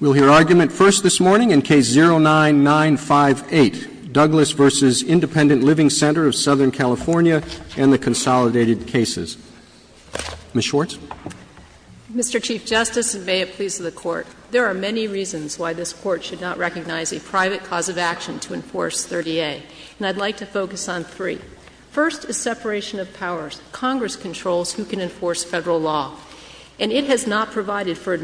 We'll hear argument first this morning in Case 09-958, Douglas v. Independent Living Center of Southern California and the Consolidated Cases. Ms. Schwartz. Mr. Chief Justice, and may it please the Court, there are many reasons why this Court should not recognize a private cause of action to enforce 30A, and I'd like to focus on three. First is separation of powers. Congress controls who can enforce Federal law, and it has not provided for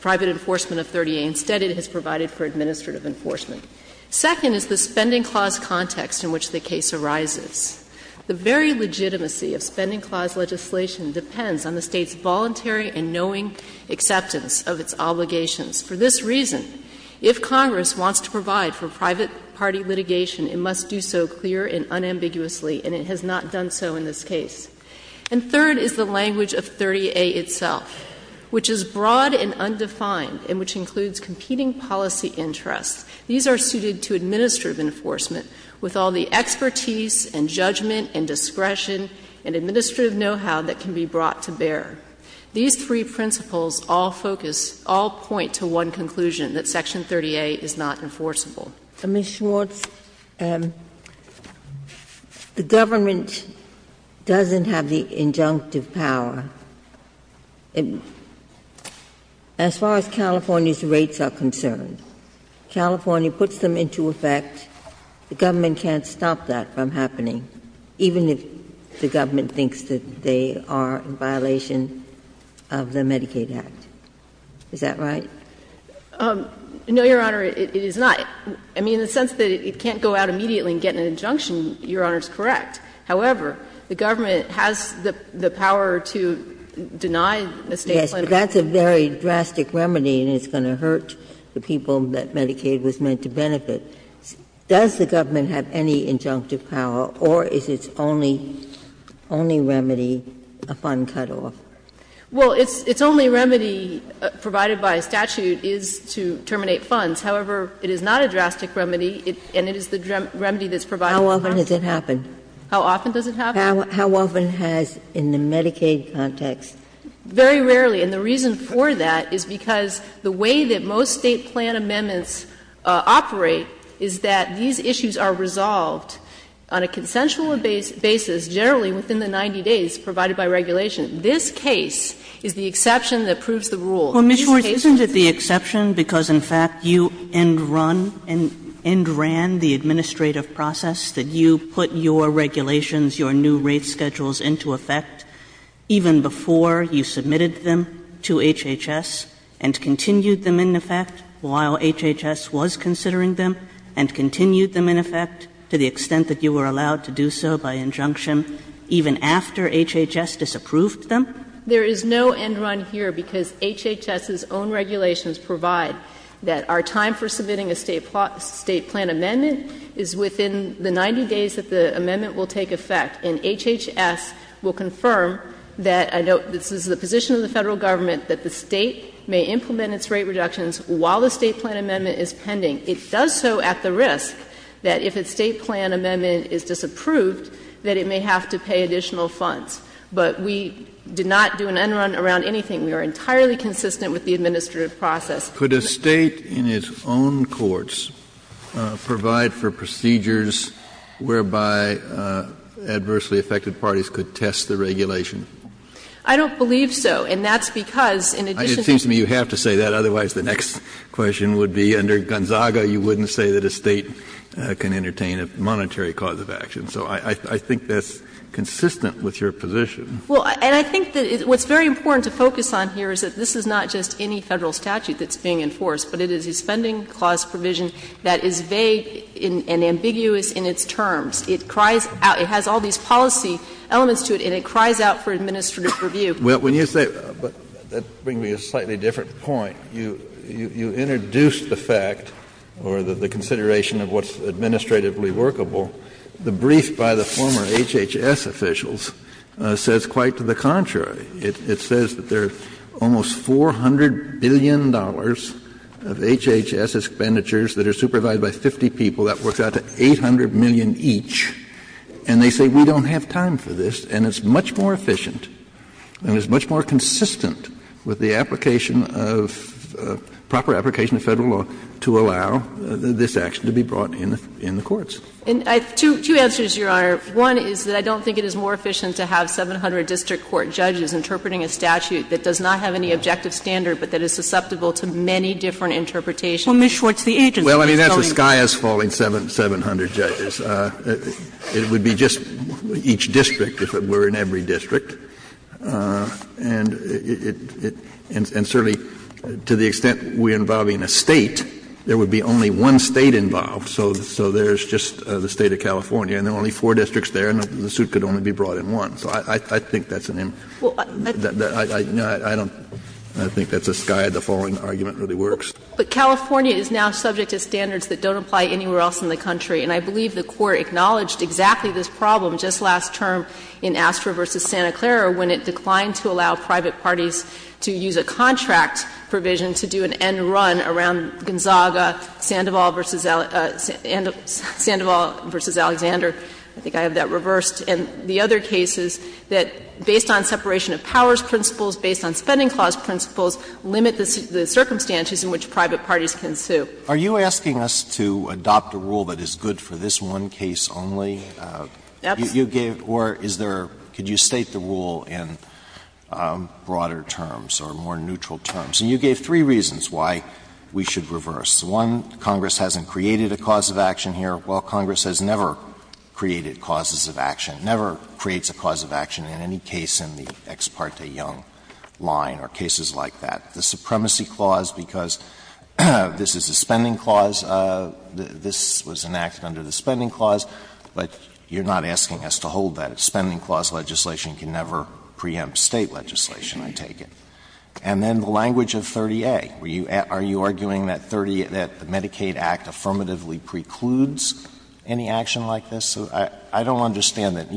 private enforcement of 30A. Instead, it has provided for administrative enforcement. Second is the Spending Clause context in which the case arises. The very legitimacy of Spending Clause legislation depends on the State's voluntary and knowing acceptance of its obligations. For this reason, if Congress wants to provide for private party litigation, it must do so clear and unambiguously, and it has not done so in this case. And third is the language of 30A itself, which is broad and undefined, and which includes competing policy interests. These are suited to administrative enforcement, with all the expertise and judgment and discretion and administrative know-how that can be brought to bear. These three principles all focus, all point to one conclusion, that Section 30A is not enforceable. Ginsburg. Ms. Schwartz, the government doesn't have the injunctive power. As far as California's rates are concerned, California puts them into effect. The government can't stop that from happening, even if the government thinks that they are in violation of the Medicaid Act. Is that right? No, Your Honor, it is not. I mean, in the sense that it can't go out immediately and get an injunction, Your Honor is correct. However, the government has the power to deny the State planner. Yes, but that's a very drastic remedy, and it's going to hurt the people that Medicaid was meant to benefit. Does the government have any injunctive power, or is its only remedy a fund cutoff? Well, its only remedy, provided by statute, is to terminate funds. However, it is not a drastic remedy, and it is the remedy that's provided in Congress. How often does it happen? How often does it happen? How often has, in the Medicaid context? Very rarely. And the reason for that is because the way that most State plan amendments operate is that these issues are resolved on a consensual basis, generally within the 90 days provided by regulation. This case is the exception that proves the rule. Well, Ms. Schwartz, isn't it the exception because, in fact, you end-run, end-ran the administrative process, that you put your regulations, your new rate schedules into effect even before you submitted them to HHS, and continued them in effect while HHS was considering them, and continued them in effect to the extent that you were allowed to do so by injunction, even after HHS disapproved them? There is no end-run here because HHS's own regulations provide that our time for submitting a State plan amendment is within the 90 days that the amendment will take effect. And HHS will confirm that, I note this is the position of the Federal Government, that the State may implement its rate reductions while the State plan amendment is pending. It does so at the risk that if a State plan amendment is disapproved, that it may have to pay additional funds. But we do not do an end-run around anything. We are entirely consistent with the administrative process. Kennedy, could a State in its own courts provide for procedures whereby adversely affected parties could test the regulation? I don't believe so, and that's because, in addition to the It seems to me you have to say that. Otherwise, the next question would be, under Gonzaga, you wouldn't say that a State can entertain a monetary cause of action. So I think that's consistent with your position. Well, and I think that what's very important to focus on here is that this is not just any Federal statute that's being enforced, but it is a Spending Clause provision that is vague and ambiguous in its terms. It cries out, it has all these policy elements to it, and it cries out for administrative review. Well, when you say, but that brings me to a slightly different point. You introduced the fact or the consideration of what's administratively workable. The brief by the former HHS officials says quite to the contrary. It says that there are almost $400 billion of HHS expenditures that are supervised by 50 people that work out to $800 million each, and they say we don't have time for this, and it's much more efficient and it's much more consistent with the application of proper application of Federal law to allow this action to be brought in the courts. And I have two answers, Your Honor. One is that I don't think it is more efficient to have 700 district court judges interpreting a statute that does not have any objective standard but that is susceptible to many different interpretations. Well, Ms. Schwartz, the agency is going to— Well, I mean, that's a sky-high falling 700 judges. It would be just each district if it were in every district. And it certainly, to the extent we're involving a State, there would be only one State involved. So there's just the State of California and there are only four districts there and the suit could only be brought in one. So I think that's an in— I don't—I think that's a sky—the falling argument really works. But California is now subject to standards that don't apply anywhere else in the country. And I believe the Court acknowledged exactly this problem just last term in Astra v. Santa Clara when it declined to allow private parties to use a contract provision to do an end run around Gonzaga, Sandoval v. Alexander. I think I have that reversed. And the other case is that based on separation of powers principles, based on Spending Clause principles, limit the circumstances in which private parties can sue. Are you asking us to adopt a rule that is good for this one case only? You gave—or is there—could you state the rule in broader terms or more neutral terms? And you gave three reasons why we should reverse. One, Congress hasn't created a cause of action here. Well, Congress has never created causes of action, never creates a cause of action in any case in the Ex parte Young line or cases like that. The Supremacy Clause, because this is a Spending Clause, this was enacted under the Spending Clause, but you're not asking us to hold that. A Spending Clause legislation can never preempt State legislation, I take it. And then the language of 30A. Are you arguing that the Medicaid Act affirmatively precludes any action like this? I don't understand that.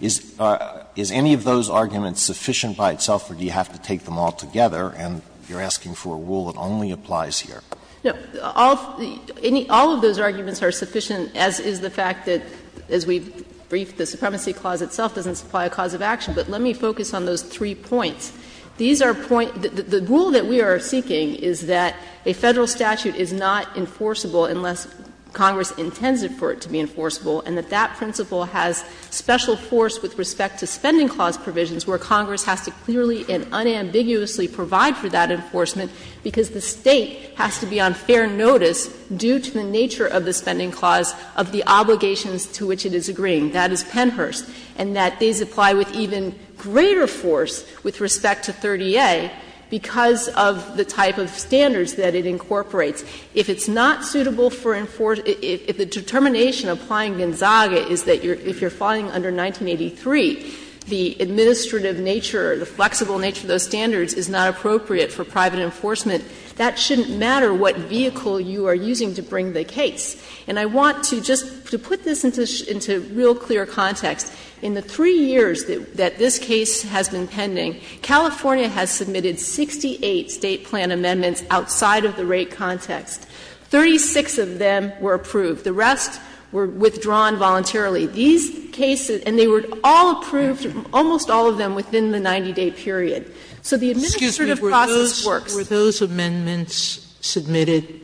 Is any of those arguments sufficient by itself, or do you have to take them all together and you're asking for a rule that only applies here? No. All of those arguments are sufficient, as is the fact that, as we've briefed, the Supremacy Clause itself doesn't supply a cause of action. But let me focus on those three points. These are point — the rule that we are seeking is that a Federal statute is not enforceable unless Congress intends for it to be enforceable, and that that principle has special force with respect to Spending Clause provisions where Congress has to clearly and unambiguously provide for that enforcement, because the State has to be on fair notice due to the nature of the Spending Clause of the obligations to which it is agreeing. That is Pennhurst. And that these apply with even greater force with respect to 30A because of the type of standards that it incorporates. If it's not suitable for — if the determination applying Gonzaga is that if you're filing under 1983, the administrative nature or the flexible nature of those standards is not appropriate for private enforcement, that shouldn't matter what vehicle you are using to bring the case. And I want to just — to put this into real clear context, in the three years that this case has been pending, California has submitted 68 State plan amendments outside of the rate context. Thirty-six of them were approved. The rest were withdrawn voluntarily. These cases — and they were all approved, almost all of them within the 90-day period. So the administrative process works. Sotomayor, were those amendments submitted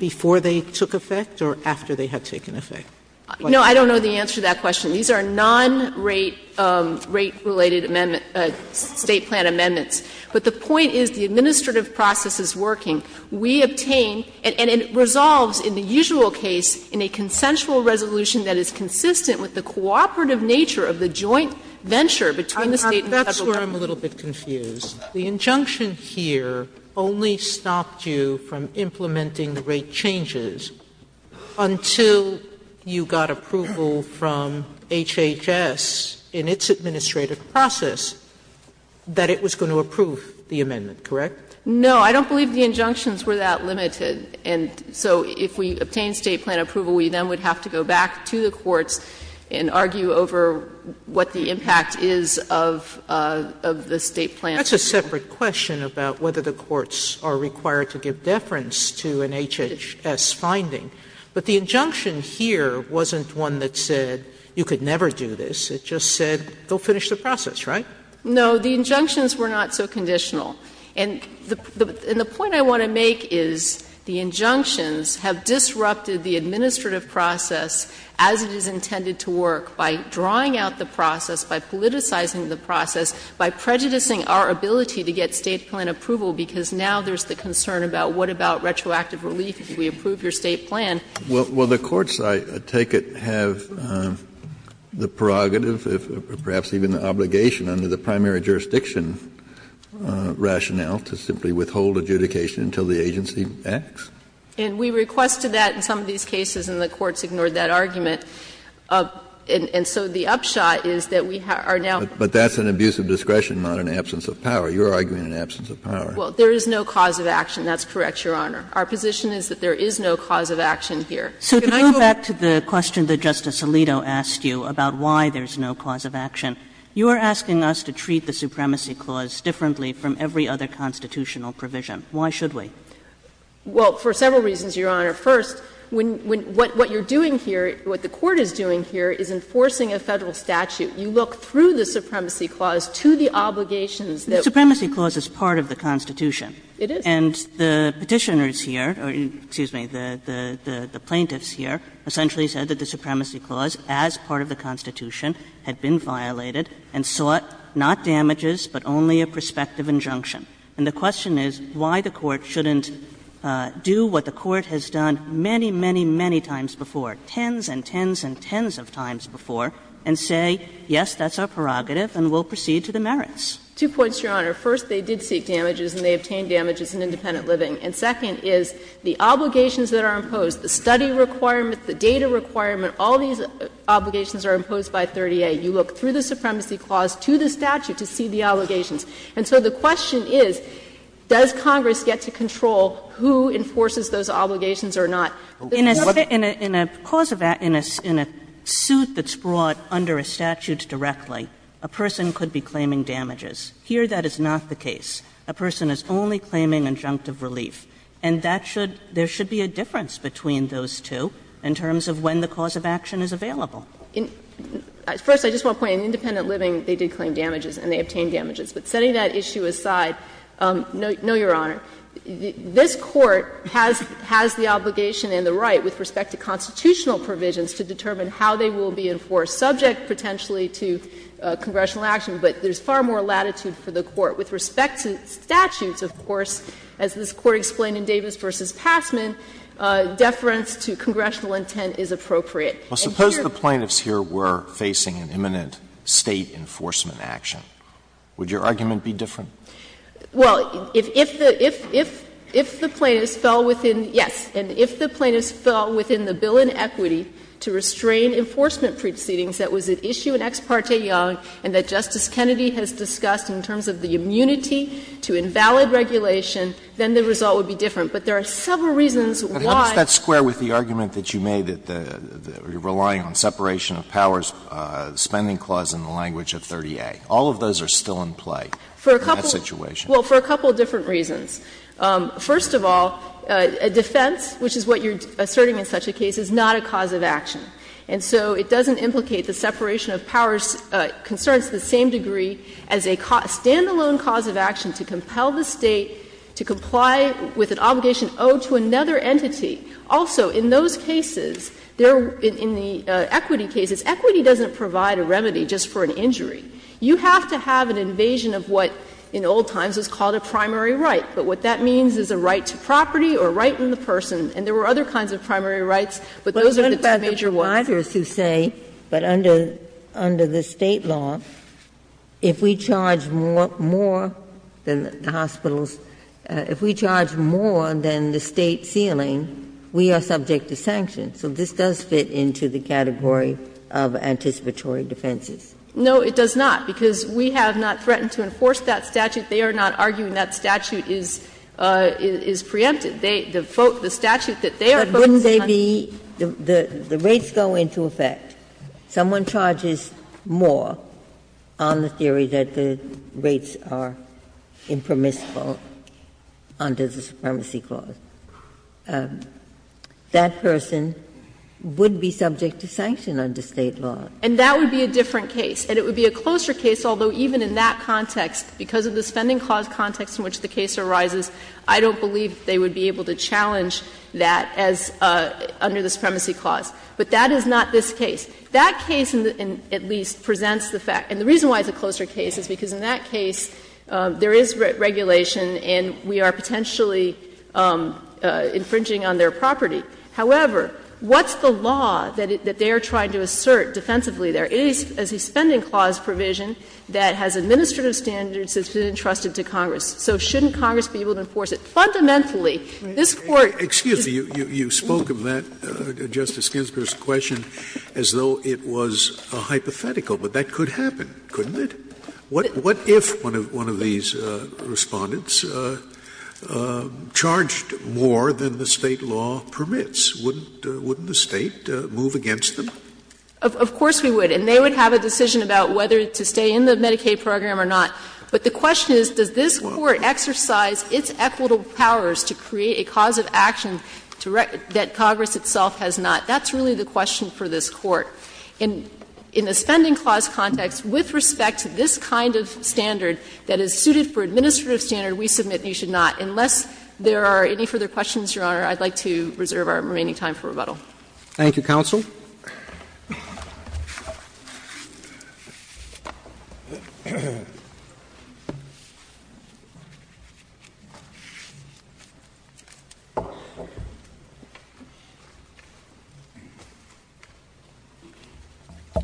before they took effect or after they had taken effect? No, I don't know the answer to that question. These are non-rate — rate-related amendment — State plan amendments. But the point is the administrative process is working. We obtain — and it resolves in the usual case in a consensual resolution that is consistent with the cooperative nature of the joint venture between the State and Federal government. That's where I'm a little bit confused. Sotomayor, the injunction here only stopped you from implementing the rate changes until you got approval from HHS in its administrative process that it was going to approve the amendment, correct? No, I don't believe the injunctions were that limited. And so if we obtain State plan approval, we then would have to go back to the courts and argue over what the impact is of — of the State plan approval. That's a separate question about whether the courts are required to give deference to an HHS finding. But the injunction here wasn't one that said you could never do this. It just said go finish the process, right? No, the injunctions were not so conditional. And the — and the point I want to make is the injunctions have disrupted the administrative process as it is intended to work by drawing out the process, by politicizing the process, by prejudicing our ability to get State plan approval, because now there's the concern about what about retroactive relief if we approve your State plan. Well, the courts, I take it, have the prerogative, perhaps even the obligation under the primary jurisdiction rationale to simply withhold adjudication until the agency acts? And we requested that in some of these cases, and the courts ignored that argument. And so the upshot is that we are now — But that's an abuse of discretion, not an absence of power. You're arguing an absence of power. Well, there is no cause of action. That's correct, Your Honor. Our position is that there is no cause of action here. So to go back to the question that Justice Alito asked you about why there's no cause of action, you are asking us to treat the Supremacy Clause differently from every other constitutional provision. Why should we? Well, for several reasons, Your Honor. First, when — what you're doing here, what the Court is doing here is enforcing a Federal statute. You look through the Supremacy Clause to the obligations that— The Supremacy Clause is part of the Constitution. It is. And the Petitioners here — excuse me, the plaintiffs here essentially said that the Supremacy Clause, as part of the Constitution, had been violated and sought not damages, but only a prospective injunction. And the question is why the Court shouldn't do what the Court has done many, many, many times before, tens and tens and tens of times before, and say, yes, that's our prerogative and we'll proceed to the merits. Two points, Your Honor. First, they did seek damages and they obtained damages in independent living. And second is the obligations that are imposed, the study requirement, the data requirement, all these obligations are imposed by 30A. You look through the Supremacy Clause to the statute to see the obligations. And so the question is, does Congress get to control who enforces those obligations or not? Kagan in a suit that's brought under a statute directly, a person could be claiming damages. Here, that is not the case. A person is only claiming injunctive relief. And that should — there should be a difference between those two in terms of when the cause of action is available. First, I just want to point out, in independent living, they did claim damages and they obtained damages. But setting that issue aside, no, Your Honor, this Court has the obligation and the right with respect to constitutional provisions to determine how they will be enforced, subject potentially to congressional action. But there's far more latitude for the Court. With respect to statutes, of course, as this Court explained in Davis v. Passman, deference to congressional intent is appropriate. Alito, suppose the plaintiffs here were facing an imminent State enforcement action. Would your argument be different? Well, if the plaintiffs fell within — yes. And if the plaintiffs fell within the bill in equity to restrain enforcement proceedings that was at issue in Ex parte Young and that Justice Kennedy has discussed in terms of the immunity to invalid regulation, then the result would be different. But there are several reasons why. But how does that square with the argument that you made that you're relying on separation of powers, the spending clause in the language of 30A? All of those are still in play in that situation. Well, for a couple of different reasons. First of all, a defense, which is what you're asserting in such a case, is not a cause of action. And so it doesn't implicate the separation of powers concerns to the same degree as a standalone cause of action to compel the State to comply with an obligation owed to another entity. Also, in those cases, there — in the equity cases, equity doesn't provide a remedy just for an injury. You have to have an invasion of what in old times was called a primary right. But what that means is a right to property or a right in the person. And there were other kinds of primary rights, but those are the two major ones. But what about the providers who say, but under the State law, if we charge more than the hospitals, if we charge more than the State ceiling, we are subject to sanctions. So this does fit into the category of anticipatory defenses. No, it does not, because we have not threatened to enforce that statute. They are not arguing that statute is preempted. They — the statute that they are focusing on — But wouldn't they be — the rates go into effect. Someone charges more on the theory that the rates are impermissible under the supremacy clause. That person would be subject to sanction under State law. And that would be a different case. And it would be a closer case, although even in that context, because of the spending clause context in which the case arises, I don't believe they would be able to challenge that as — under the supremacy clause. But that is not this case. That case, at least, presents the fact — and the reason why it's a closer case is because in that case, there is regulation and we are potentially infringing on their property. However, what's the law that they are trying to assert defensively there? It is a spending clause provision that has administrative standards that's been entrusted to Congress. So shouldn't Congress be able to enforce it? Fundamentally, this Court — Scalia. It's a hypothetical, but that could happen, couldn't it? What if one of these Respondents charged more than the State law permits? Wouldn't the State move against them? Of course we would. And they would have a decision about whether to stay in the Medicaid program or not. But the question is, does this Court exercise its equitable powers to create a cause of action that Congress itself has not? That's really the question for this Court. In the spending clause context, with respect to this kind of standard that is suited for administrative standard, we submit you should not. Unless there are any further questions, Your Honor, I'd like to reserve our remaining time for rebuttal. Thank you, counsel.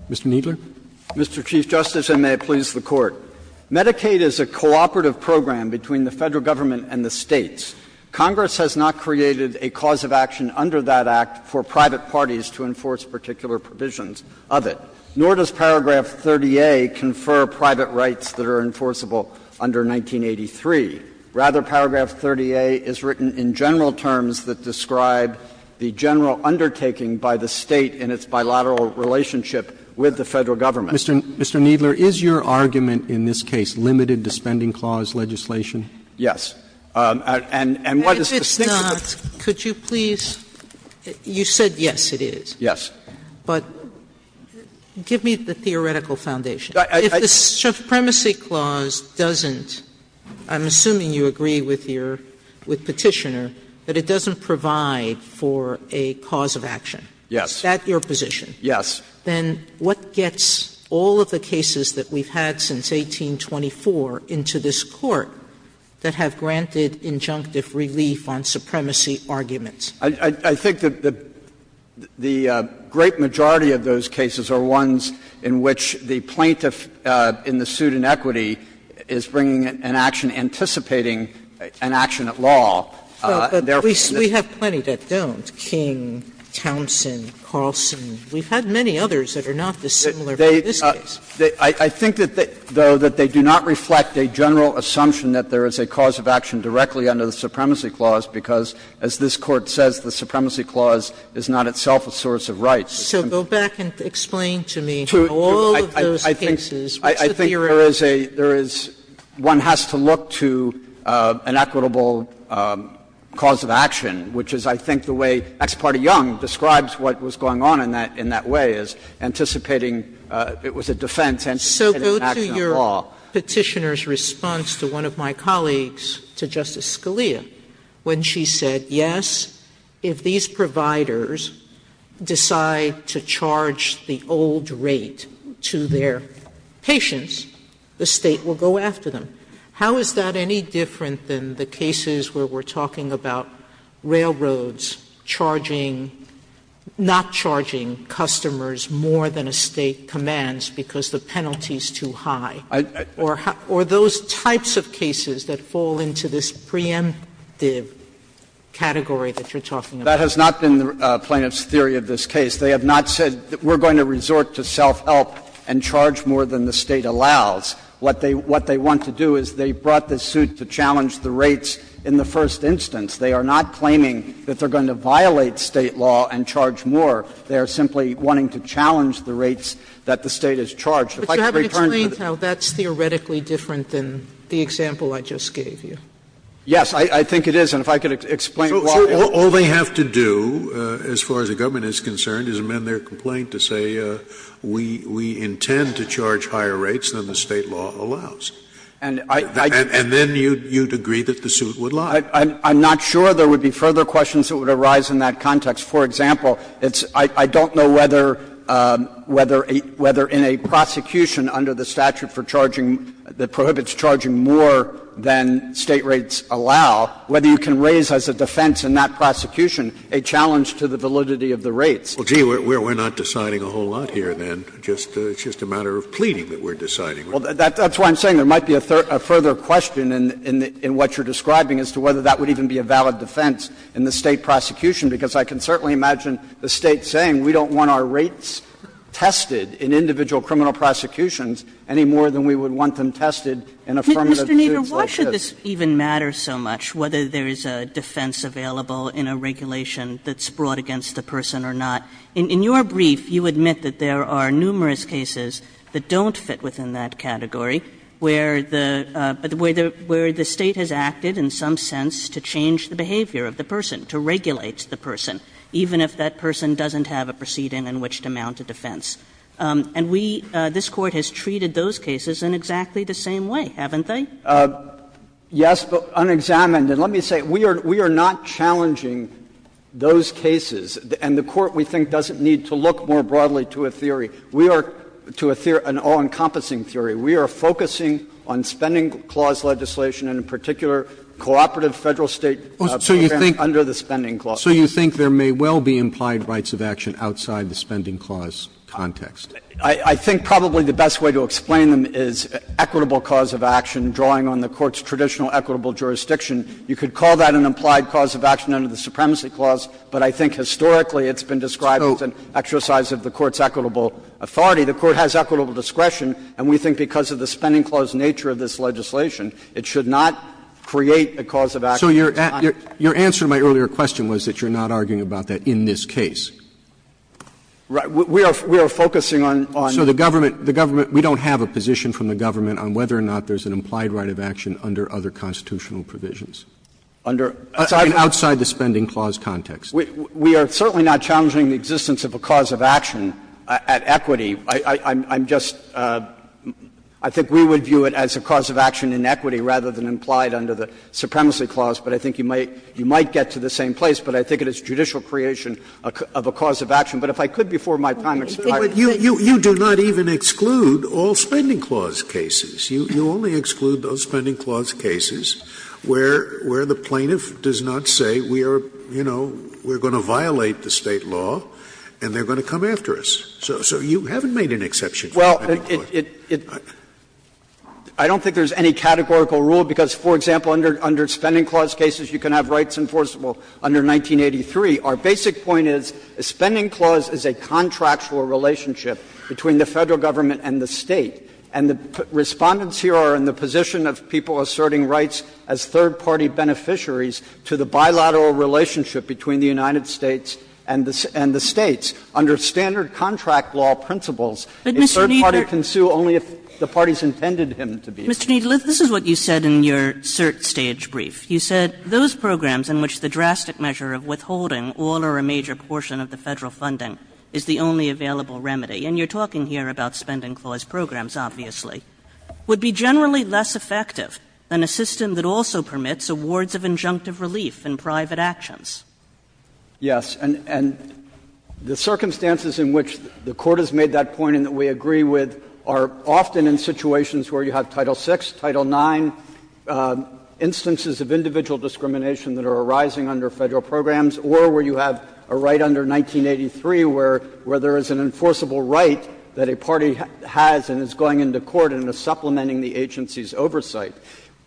Mr. Kneedler. Mr. Chief Justice, and may it please the Court. Medicaid is a cooperative program between the Federal Government and the States. Congress has not created a cause of action under that Act for private parties to enforce particular provisions of it. Nor does paragraph 30A confer private rights that are enforceable under 1983. Rather, paragraph 30A is written in general terms that describe the general undertaking by the State in its bilateral relationship with the Federal Government. Mr. Kneedler, is your argument in this case limited to spending clause legislation? Yes. And what is the significance of that? Sotomayor, if it's not, could you please – you said yes, it is. Yes. But give me the theoretical foundation. If the Supremacy Clause doesn't – I'm assuming you agree with your – with Petitioner – that it doesn't provide for a cause of action. Yes. Is that your position? Yes. Then what gets all of the cases that we've had since 1824 into this Court that have granted injunctive relief on supremacy arguments? I think that the great majority of those cases are ones in which the plaintiff in the suit in equity is bringing an action, anticipating an action at law. Well, but we have plenty that don't. King, Townsend, Carlson. We've had many others that are not dissimilar from this case. I think, though, that they do not reflect a general assumption that there is a cause of action directly under the Supremacy Clause, because as this Court says, the Supremacy Clause is not itself a source of rights. So go back and explain to me how all of those cases – what's the theory? I think there is a – there is – one has to look to an equitable cause of action, which is, I think, the way Ex parte Young describes what was going on in that way, is anticipating – it was a defense, anticipating an action at law. So go to your Petitioner's response to one of my colleagues, to Justice Scalia, when she said, yes, if these providers decide to charge the old rate to their patients, the State will go after them. How is that any different than the cases where we're talking about railroads charging – not charging customers more than a State commands because the penalty is too high? Or those types of cases that fall into this preemptive category that you're talking about? That has not been the plaintiff's theory of this case. They have not said we're going to resort to self-help and charge more than the State allows. What they want to do is they brought this suit to challenge the rates in the first instance. They are not claiming that they're going to violate State law and charge more. They are simply wanting to challenge the rates that the State has charged. If I could return to the other point. Sotomayor, that's theoretically different than the example I just gave you. Yes, I think it is. And if I could explain why. Scalia, all they have to do, as far as the government is concerned, is amend their complaint to say we intend to charge higher rates than the State law allows. And then you'd agree that the suit would lie. I'm not sure there would be further questions that would arise in that context. For example, I don't know whether in a prosecution under the statute for charging that prohibits charging more than State rates allow, whether you can raise as a defense in that prosecution a challenge to the validity of the rates. Well, gee, we're not deciding a whole lot here, then. It's just a matter of pleading that we're deciding. Well, that's why I'm saying there might be a further question in what you're describing as to whether that would even be a valid defense in the State prosecution. Because I can certainly imagine the State saying we don't want our rates tested in individual criminal prosecutions any more than we would want them tested in affirmative suits like this. Kagane. Kagane. Mr. Kneedler, why should this even matter so much, whether there is a defense available in a regulation that's brought against the person or not? In your brief, you admit that there are numerous cases that don't fit within that prosecuted in a way that would make some sense to change the behavior of the person, to regulate the person, even if that person doesn't have a proceeding in which to mount a defense? And we – this Court has treated those cases in exactly the same way, haven't they? Kneedler. Yes, but unexamined. And let me say, we are not challenging those cases. And the Court, we think, doesn't need to look more broadly to a theory. We are – to an all-encompassing theory. We are focusing on spending clause legislation and, in particular, cooperative Federal-State programs under the Spending Clause. So you think there may well be implied rights of action outside the Spending Clause context? I think probably the best way to explain them is equitable cause of action, drawing on the Court's traditional equitable jurisdiction. You could call that an implied cause of action under the Supremacy Clause, but I think historically it's been described as an exercise of the Court's equitable authority. The Court has equitable discretion, and we think because of the Spending Clause nature of this legislation, it should not create a cause of action. So your answer to my earlier question was that you're not arguing about that in this case. Right. We are focusing on the government. We don't have a position from the government on whether or not there's an implied right of action under other constitutional provisions. Under? Outside the Spending Clause context. We are certainly not challenging the existence of a cause of action at equity. I'm just – I think we would view it as a cause of action in equity rather than implied under the Supremacy Clause, but I think you might get to the same place. But I think it is judicial creation of a cause of action. But if I could, before my time expires. Scalia, you do not even exclude all Spending Clause cases. You only exclude those Spending Clause cases where the plaintiff does not say we are, you know, we are going to violate the State law and they are going to come after us. So you haven't made an exception for Spending Clause. Well, it – I don't think there is any categorical rule, because, for example, under Spending Clause cases you can have rights enforceable under 1983. Our basic point is a Spending Clause is a contractual relationship between the Federal Government and the State. And the Respondents here are in the position of people asserting rights as third party beneficiaries to the bilateral relationship between the United States and the States. Under standard contract law principles, a third party can sue only if the parties intended him to be. Ms. Kagan. Ms. Kagan, this is what you said in your cert stage brief. You said, Those programs in which the drastic measure of withholding all or a major portion of the Federal funding is the only available remedy, and you are talking here about Spending Clause programs, obviously, would be generally less effective than a system that also permits awards of injunctive relief in private actions. Yes. And the circumstances in which the Court has made that point and that we agree with are often in situations where you have Title VI, Title IX, instances of individual discrimination that are arising under Federal programs, or where you have a right under 1983 where there is an enforceable right that a party has and is going into court and is supplementing the agency's oversight.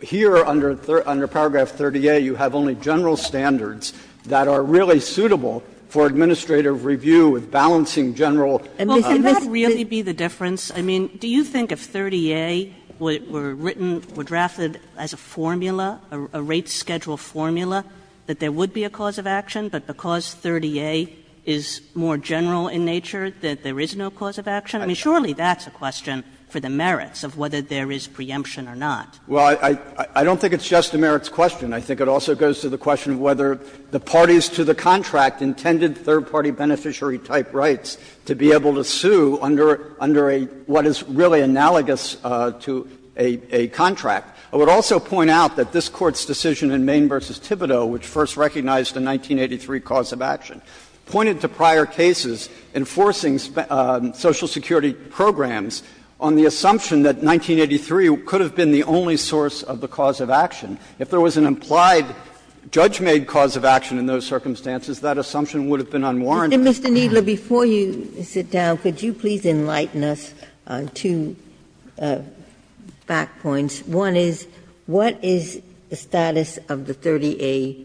Here, under paragraph 30A, you have only general standards that are really suitable for administrative review with balancing general. And this is not a big difference. Kagan. I mean, do you think if 30A were written, were drafted as a formula, a rate schedule formula, that there would be a cause of action, but because 30A is more general in nature that there is no cause of action? I mean, surely that's a question for the merits of whether there is preemption or not. Well, I don't think it's just a merits question. I think it also goes to the question of whether the parties to the contract intended third-party beneficiary-type rights to be able to sue under a what is really analogous to a contract. I would also point out that this Court's decision in Maine v. Thibodeau, which first recognized the 1983 cause of action, pointed to prior cases enforcing Social Security programs on the assumption that 1983 could have been the only source of the cause of action. If there was an implied, judge-made cause of action in those circumstances, that assumption would have been unwarranted. Ginsburg. And, Mr. Kneedler, before you sit down, could you please enlighten us on two back points? One is, what is the status of the 30A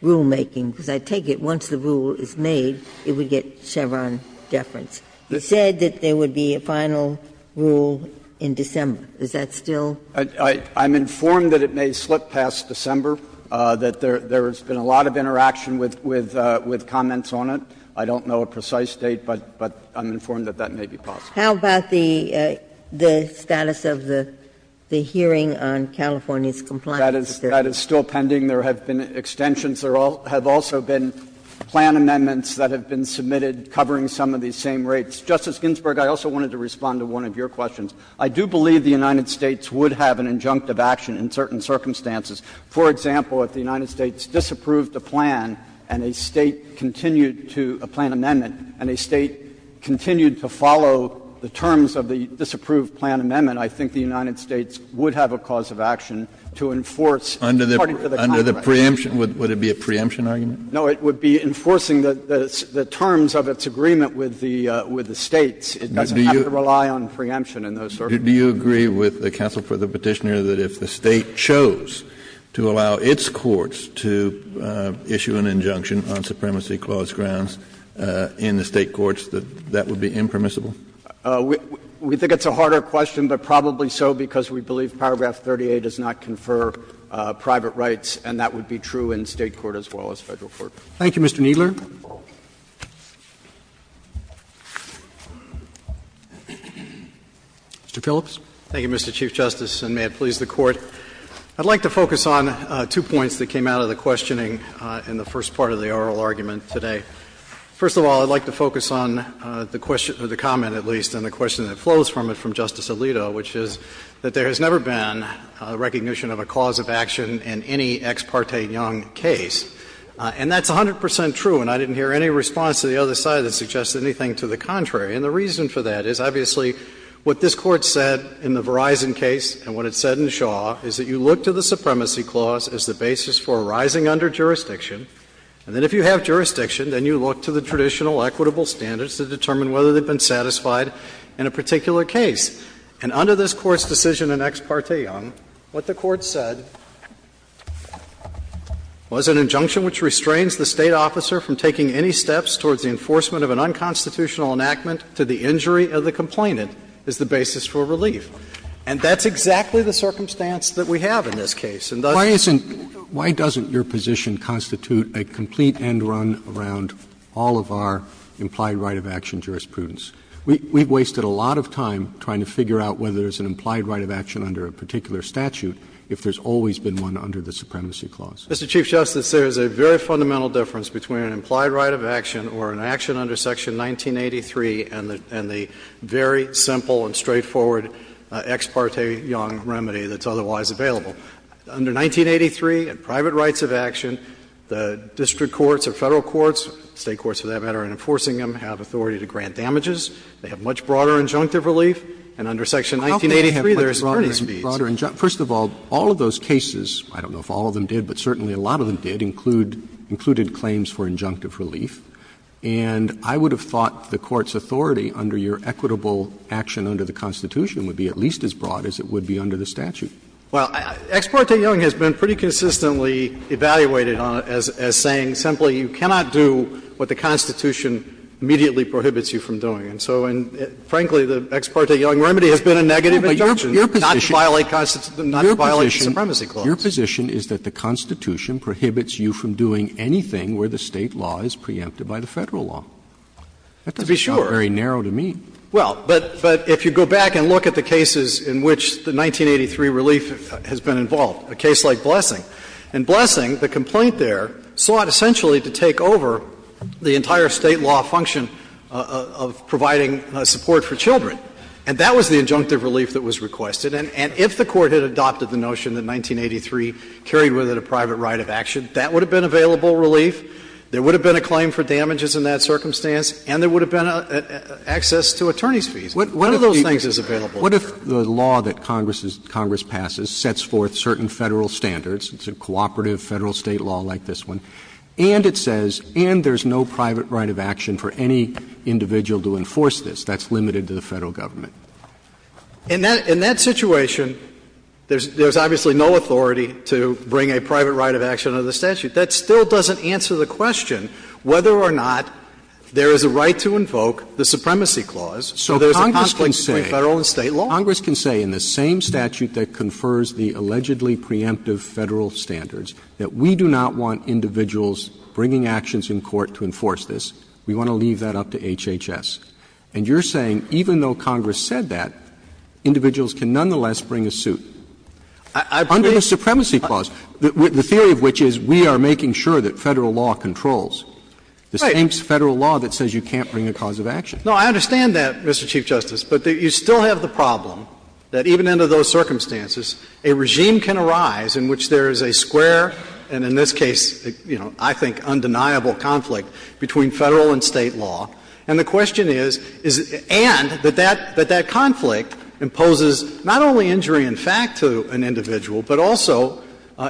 rulemaking? Because I take it once the rule is made, it would get Chevron deference. You said that there would be a final rule in December. Is that still? Kneedler, I'm informed that it may slip past December, that there has been a lot of interaction with comments on it. I don't know a precise date, but I'm informed that that may be possible. How about the status of the hearing on California's compliance? That is still pending. There have been extensions. There have also been plan amendments that have been submitted covering some of these same rates. Justice Ginsburg, I also wanted to respond to one of your questions. I do believe the United States would have an injunctive action in certain circumstances. For example, if the United States disapproved a plan and a State continued to — a plan amendment and a State continued to follow the terms of the disapproved plan amendment, I think the United States would have a cause of action to enforce, according to the Congress. Kennedy, would it be a preemption argument? No, it would be enforcing the terms of its agreement with the States. It doesn't have to rely on preemption in those circumstances. Do you agree with the counsel for the Petitioner that if the State chose to allow its courts to issue an injunction on supremacy clause grounds in the State courts, that that would be impermissible? We think it's a harder question, but probably so because we believe paragraph 38 does not confer private rights, and that would be true in State court as well as Federal court. Thank you, Mr. Kneedler. Mr. Phillips. Thank you, Mr. Chief Justice, and may it please the Court. I'd like to focus on two points that came out of the questioning in the first part of the oral argument today. First of all, I'd like to focus on the question — or the comment, at least, and the question that flows from it from Justice Alito, which is that there has never been a recognition of a cause of action in any ex parte Young case. And that's 100 percent true, and I didn't hear any response to the other side that suggests anything to the contrary. And the reason for that is, obviously, what this Court said in the Verizon case and what it said in Shaw is that you look to the supremacy clause as the basis for rising under jurisdiction, and then if you have jurisdiction, then you look to the traditional equitable standards to determine whether they've been satisfied in a particular case. And under this Court's decision in ex parte Young, what the Court said was an injunction which restrains the State officer from taking any steps towards the enforcement of an unconstitutional enactment to the injury of the complainant is the basis for relief. And that's exactly the circumstance that we have in this case. And thus the case is not going to be a case that's going to be a complete end-run around all of our implied right of action jurisprudence. We've wasted a lot of time trying to figure out whether there's an implied right of action under a particular statute if there's always been one under the supremacy clause. Mr. Chief Justice, there's a very fundamental difference between an implied right of action or an action under Section 1983 and the very simple and straightforward ex parte Young remedy that's otherwise available. Under 1983, in private rights of action, the district courts or Federal courts, State courts for that matter, in enforcing them have authority to grant damages. They have much broader injunctive relief. And under Section 1983, there's a pretty speedy injunctive relief. First of all, all of those cases, I don't know if all of them did, but certainly a lot of them did, include – included claims for injunctive relief. And I would have thought the Court's authority under your equitable action under the Constitution would be at least as broad as it would be under the statute. Well, ex parte Young has been pretty consistently evaluated on it as saying simply you cannot do what the Constitution immediately prohibits you from doing. And so, frankly, the ex parte Young remedy has been a negative injunction. Not to violate the supremacy clause. Your position is that the Constitution prohibits you from doing anything where the State law is preempted by the Federal law. To be sure. That doesn't sound very narrow to me. Well, but if you go back and look at the cases in which the 1983 relief has been involved, a case like Blessing. In Blessing, the complaint there sought essentially to take over the entire State law function of providing support for children. And that was the injunctive relief that was requested. And if the Court had adopted the notion that 1983 carried with it a private right of action, that would have been available relief. There would have been a claim for damages in that circumstance, and there would have been access to attorney's fees. One of those things is available. What if the law that Congress passes sets forth certain Federal standards, it's a cooperative Federal-State law like this one, and it says, and there's no private right of action for any individual to enforce this? That's limited to the Federal government. In that situation, there's obviously no authority to bring a private right of action under the statute. That still doesn't answer the question whether or not there is a right to invoke the supremacy clause. So there's a conflict between Federal and State law. Roberts. Congress can say in the same statute that confers the allegedly preemptive Federal standards that we do not want individuals bringing actions in court to enforce this. We want to leave that up to HHS. And you're saying even though Congress said that, individuals can nonetheless bring a suit. Under the supremacy clause, the theory of which is we are making sure that Federal law controls. Right. The same Federal law that says you can't bring a cause of action. No, I understand that, Mr. Chief Justice. But you still have the problem that even under those circumstances, a regime can arise in which there is a square and in this case, you know, I think undeniable conflict between Federal and State law. And the question is, and that that conflict imposes not only injury in fact to an individual, but also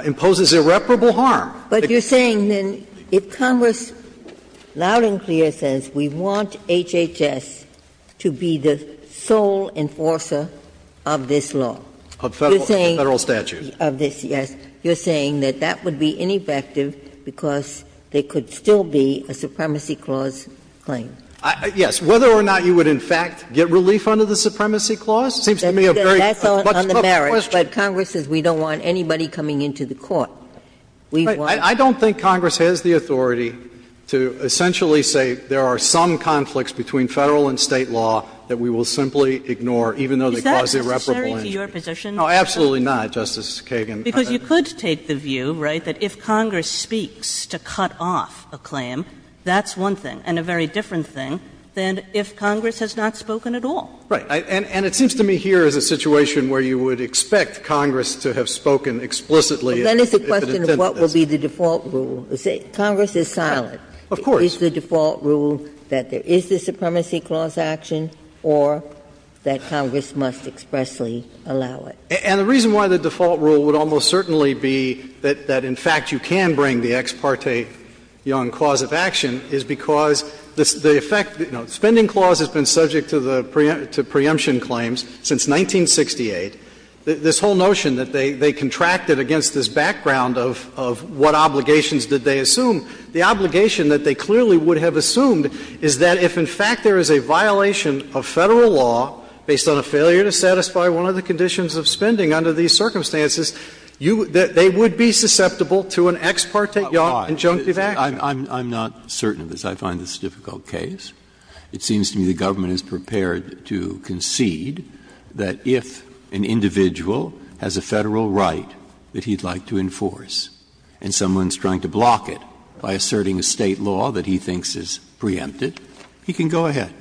imposes irreparable harm. But you're saying then if Congress loud and clear says we want HHS to be the sole enforcer of this law. Of Federal statute. Of this, yes. You're saying that that would be ineffective because there could still be a supremacy clause claim. Yes. Whether or not you would in fact get relief under the supremacy clause seems to me a very much put question. That's on the merits, but Congress says we don't want anybody coming into the court. We want to do it. I don't think Congress has the authority to essentially say there are some conflicts between Federal and State law that we will simply ignore, even though they cause irreparable injury. Is that necessary to your position? No, absolutely not, Justice Kagan. Because you could take the view, right, that if Congress speaks to cut off a claim, that's one thing, and a very different thing than if Congress has not spoken at all. Right. And it seems to me here is a situation where you would expect Congress to have spoken explicitly if it intended this. Well, then it's a question of what would be the default rule. Congress is silent. Of course. Is the default rule that there is the supremacy clause action or that Congress must expressly allow it? And the reason why the default rule would almost certainly be that in fact you can bring the ex parte young cause of action is because the effect, you know, the spending clause has been subject to the preemption claims since 1968. This whole notion that they contracted against this background of what obligations did they assume, the obligation that they clearly would have assumed is that if, in fact, there is a violation of Federal law based on a failure to satisfy one of the conditions of spending under these circumstances, they would be susceptible to an ex parte young injunctive action. Breyer. I'm not certain of this. I find this a difficult case. It seems to me the government is prepared to concede that if an individual has a Federal right that he'd like to enforce and someone is trying to block it by asserting a State law that he thinks is preempted, he can go ahead.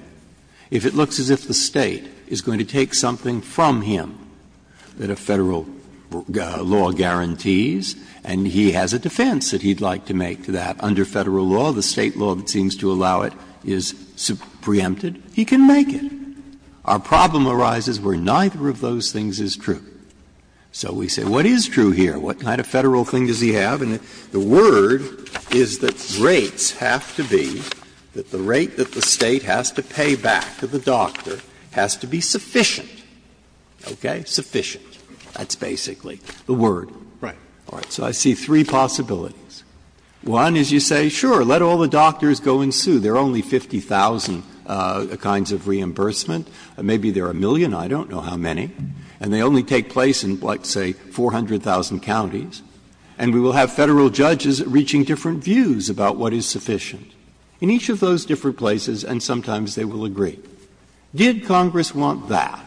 If it looks as if the State is going to take something from him that a Federal law guarantees and he has a defense that he'd like to make to that under Federal law, the State law that seems to allow it is preempted, he can make it. Our problem arises where neither of those things is true. So we say what is true here? What kind of Federal thing does he have? And the word is that rates have to be, that the rate that the State has to pay back to the doctor has to be sufficient. Okay? Sufficient. That's basically the word. Right. All right. So I see three possibilities. One is you say, sure, let all the doctors go and sue. There are only 50,000 kinds of reimbursement. Maybe there are a million. I don't know how many. And they only take place in, let's say, 400,000 counties. And we will have Federal judges reaching different views about what is sufficient in each of those different places, and sometimes they will agree. Did Congress want that?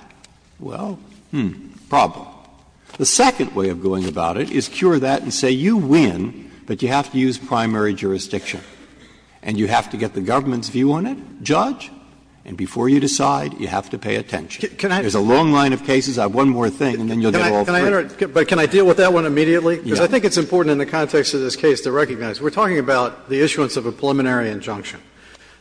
Well, hmm, problem. The second way of going about it is cure that and say you win, but you have to use primary jurisdiction, and you have to get the government's view on it, judge, and before you decide, you have to pay attention. There is a long line of cases. I have one more thing and then you will get all three. Can I enter it? But can I deal with that one immediately? Yes. Because I think it's important in the context of this case to recognize we are talking about the issuance of a preliminary injunction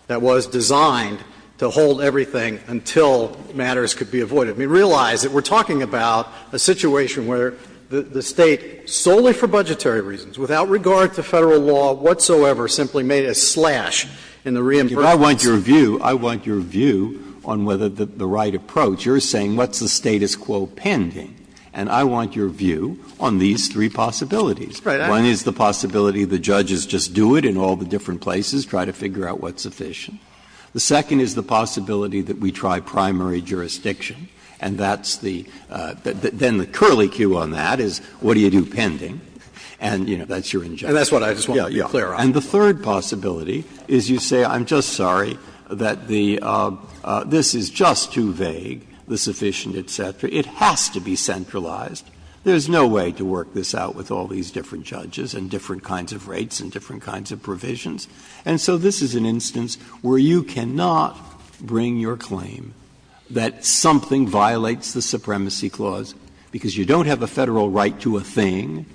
that was designed to hold everything until matters could be avoided. Realize that we are talking about a situation where the State, solely for budgetary reasons, without regard to Federal law whatsoever, simply made a slash in the reimbursement system. Breyer. I want your view on whether the right approach. You are saying what is the status quo pending, and I want your view on these three possibilities. One is the possibility the judges just do it in all the different places, try to figure out what is sufficient. The second is the possibility that we try primary jurisdiction, and that's the – then the curly cue on that is what do you do pending, and, you know, that's your injunction. And that's what I just want to be clear on. And the third possibility is you say I'm just sorry that the – this is just too vague, the sufficient, et cetera. It has to be centralized. There is no way to work this out with all these different judges and different kinds of rates and different kinds of provisions. And so this is an instance where you cannot bring your claim that something violates the Supremacy Clause because you don't have a Federal right to a thing,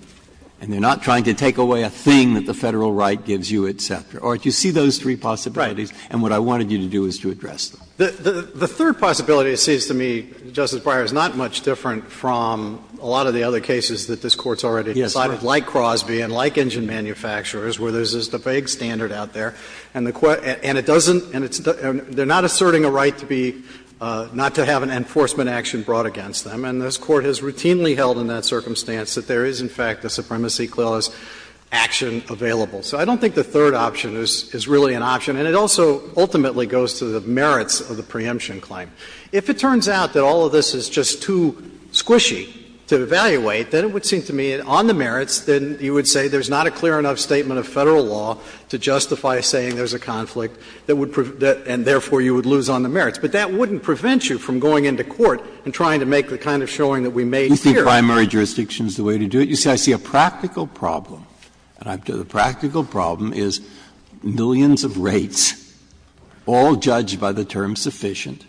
and they are not trying to take away a thing that the Federal right gives you, et cetera. Or do you see those three possibilities, and what I wanted you to do is to address them? The third possibility, it seems to me, Justice Breyer, is not much different from a lot of the other cases that this Court's already decided, like Crosby and like manufacturers, where there's just a vague standard out there, and the – and it doesn't – and it's – they're not asserting a right to be – not to have an enforcement action brought against them. And this Court has routinely held in that circumstance that there is, in fact, a Supremacy Clause action available. So I don't think the third option is really an option, and it also ultimately goes to the merits of the preemption claim. If it turns out that all of this is just too squishy to evaluate, then it would say there's not a clear enough statement of Federal law to justify saying there's a conflict that would – and therefore you would lose on the merits. But that wouldn't prevent you from going into court and trying to make the kind of showing that we made here. Breyer, you think primary jurisdiction is the way to do it? You say I see a practical problem, and the practical problem is millions of rates, all judged by the term sufficient,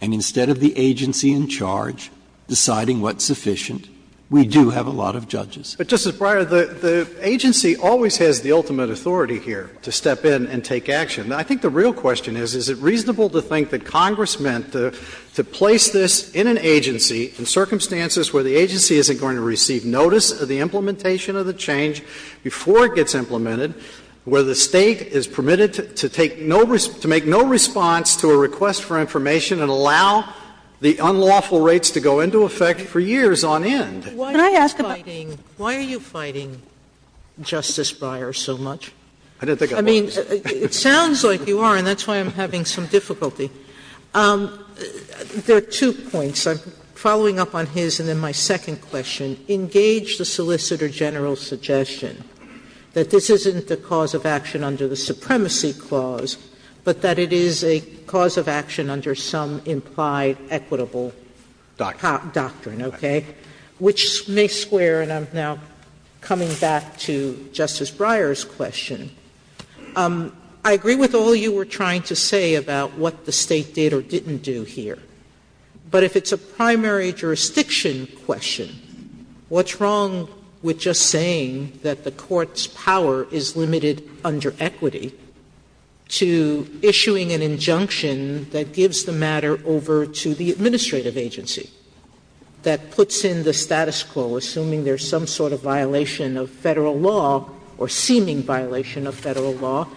and instead of the agency in charge deciding what's sufficient, we do have a lot of judges. But, Justice Breyer, the agency always has the ultimate authority here to step in and take action. I think the real question is, is it reasonable to think that Congress meant to place this in an agency in circumstances where the agency isn't going to receive notice of the implementation of the change before it gets implemented, where the State is permitted to take no – to make no response to a request for information and allow the unlawful rates to go into effect for years on end? Can I ask about the question? Sotomayor, why are you fighting Justice Breyer so much? I mean, it sounds like you are, and that's why I'm having some difficulty. There are two points. I'm following up on his, and then my second question. Engage the Solicitor General's suggestion that this isn't the cause of action under the Supremacy Clause, but that it is a cause of action under some implied equitable doctrine, okay? Which may square, and I'm now coming back to Justice Breyer's question. I agree with all you were trying to say about what the State did or didn't do here. But if it's a primary jurisdiction question, what's wrong with just saying that the Court's power is limited under equity to issuing an injunction that gives the matter over to the administrative agency, that puts in the status quo, assuming there's some sort of violation of Federal law or seeming violation of Federal law,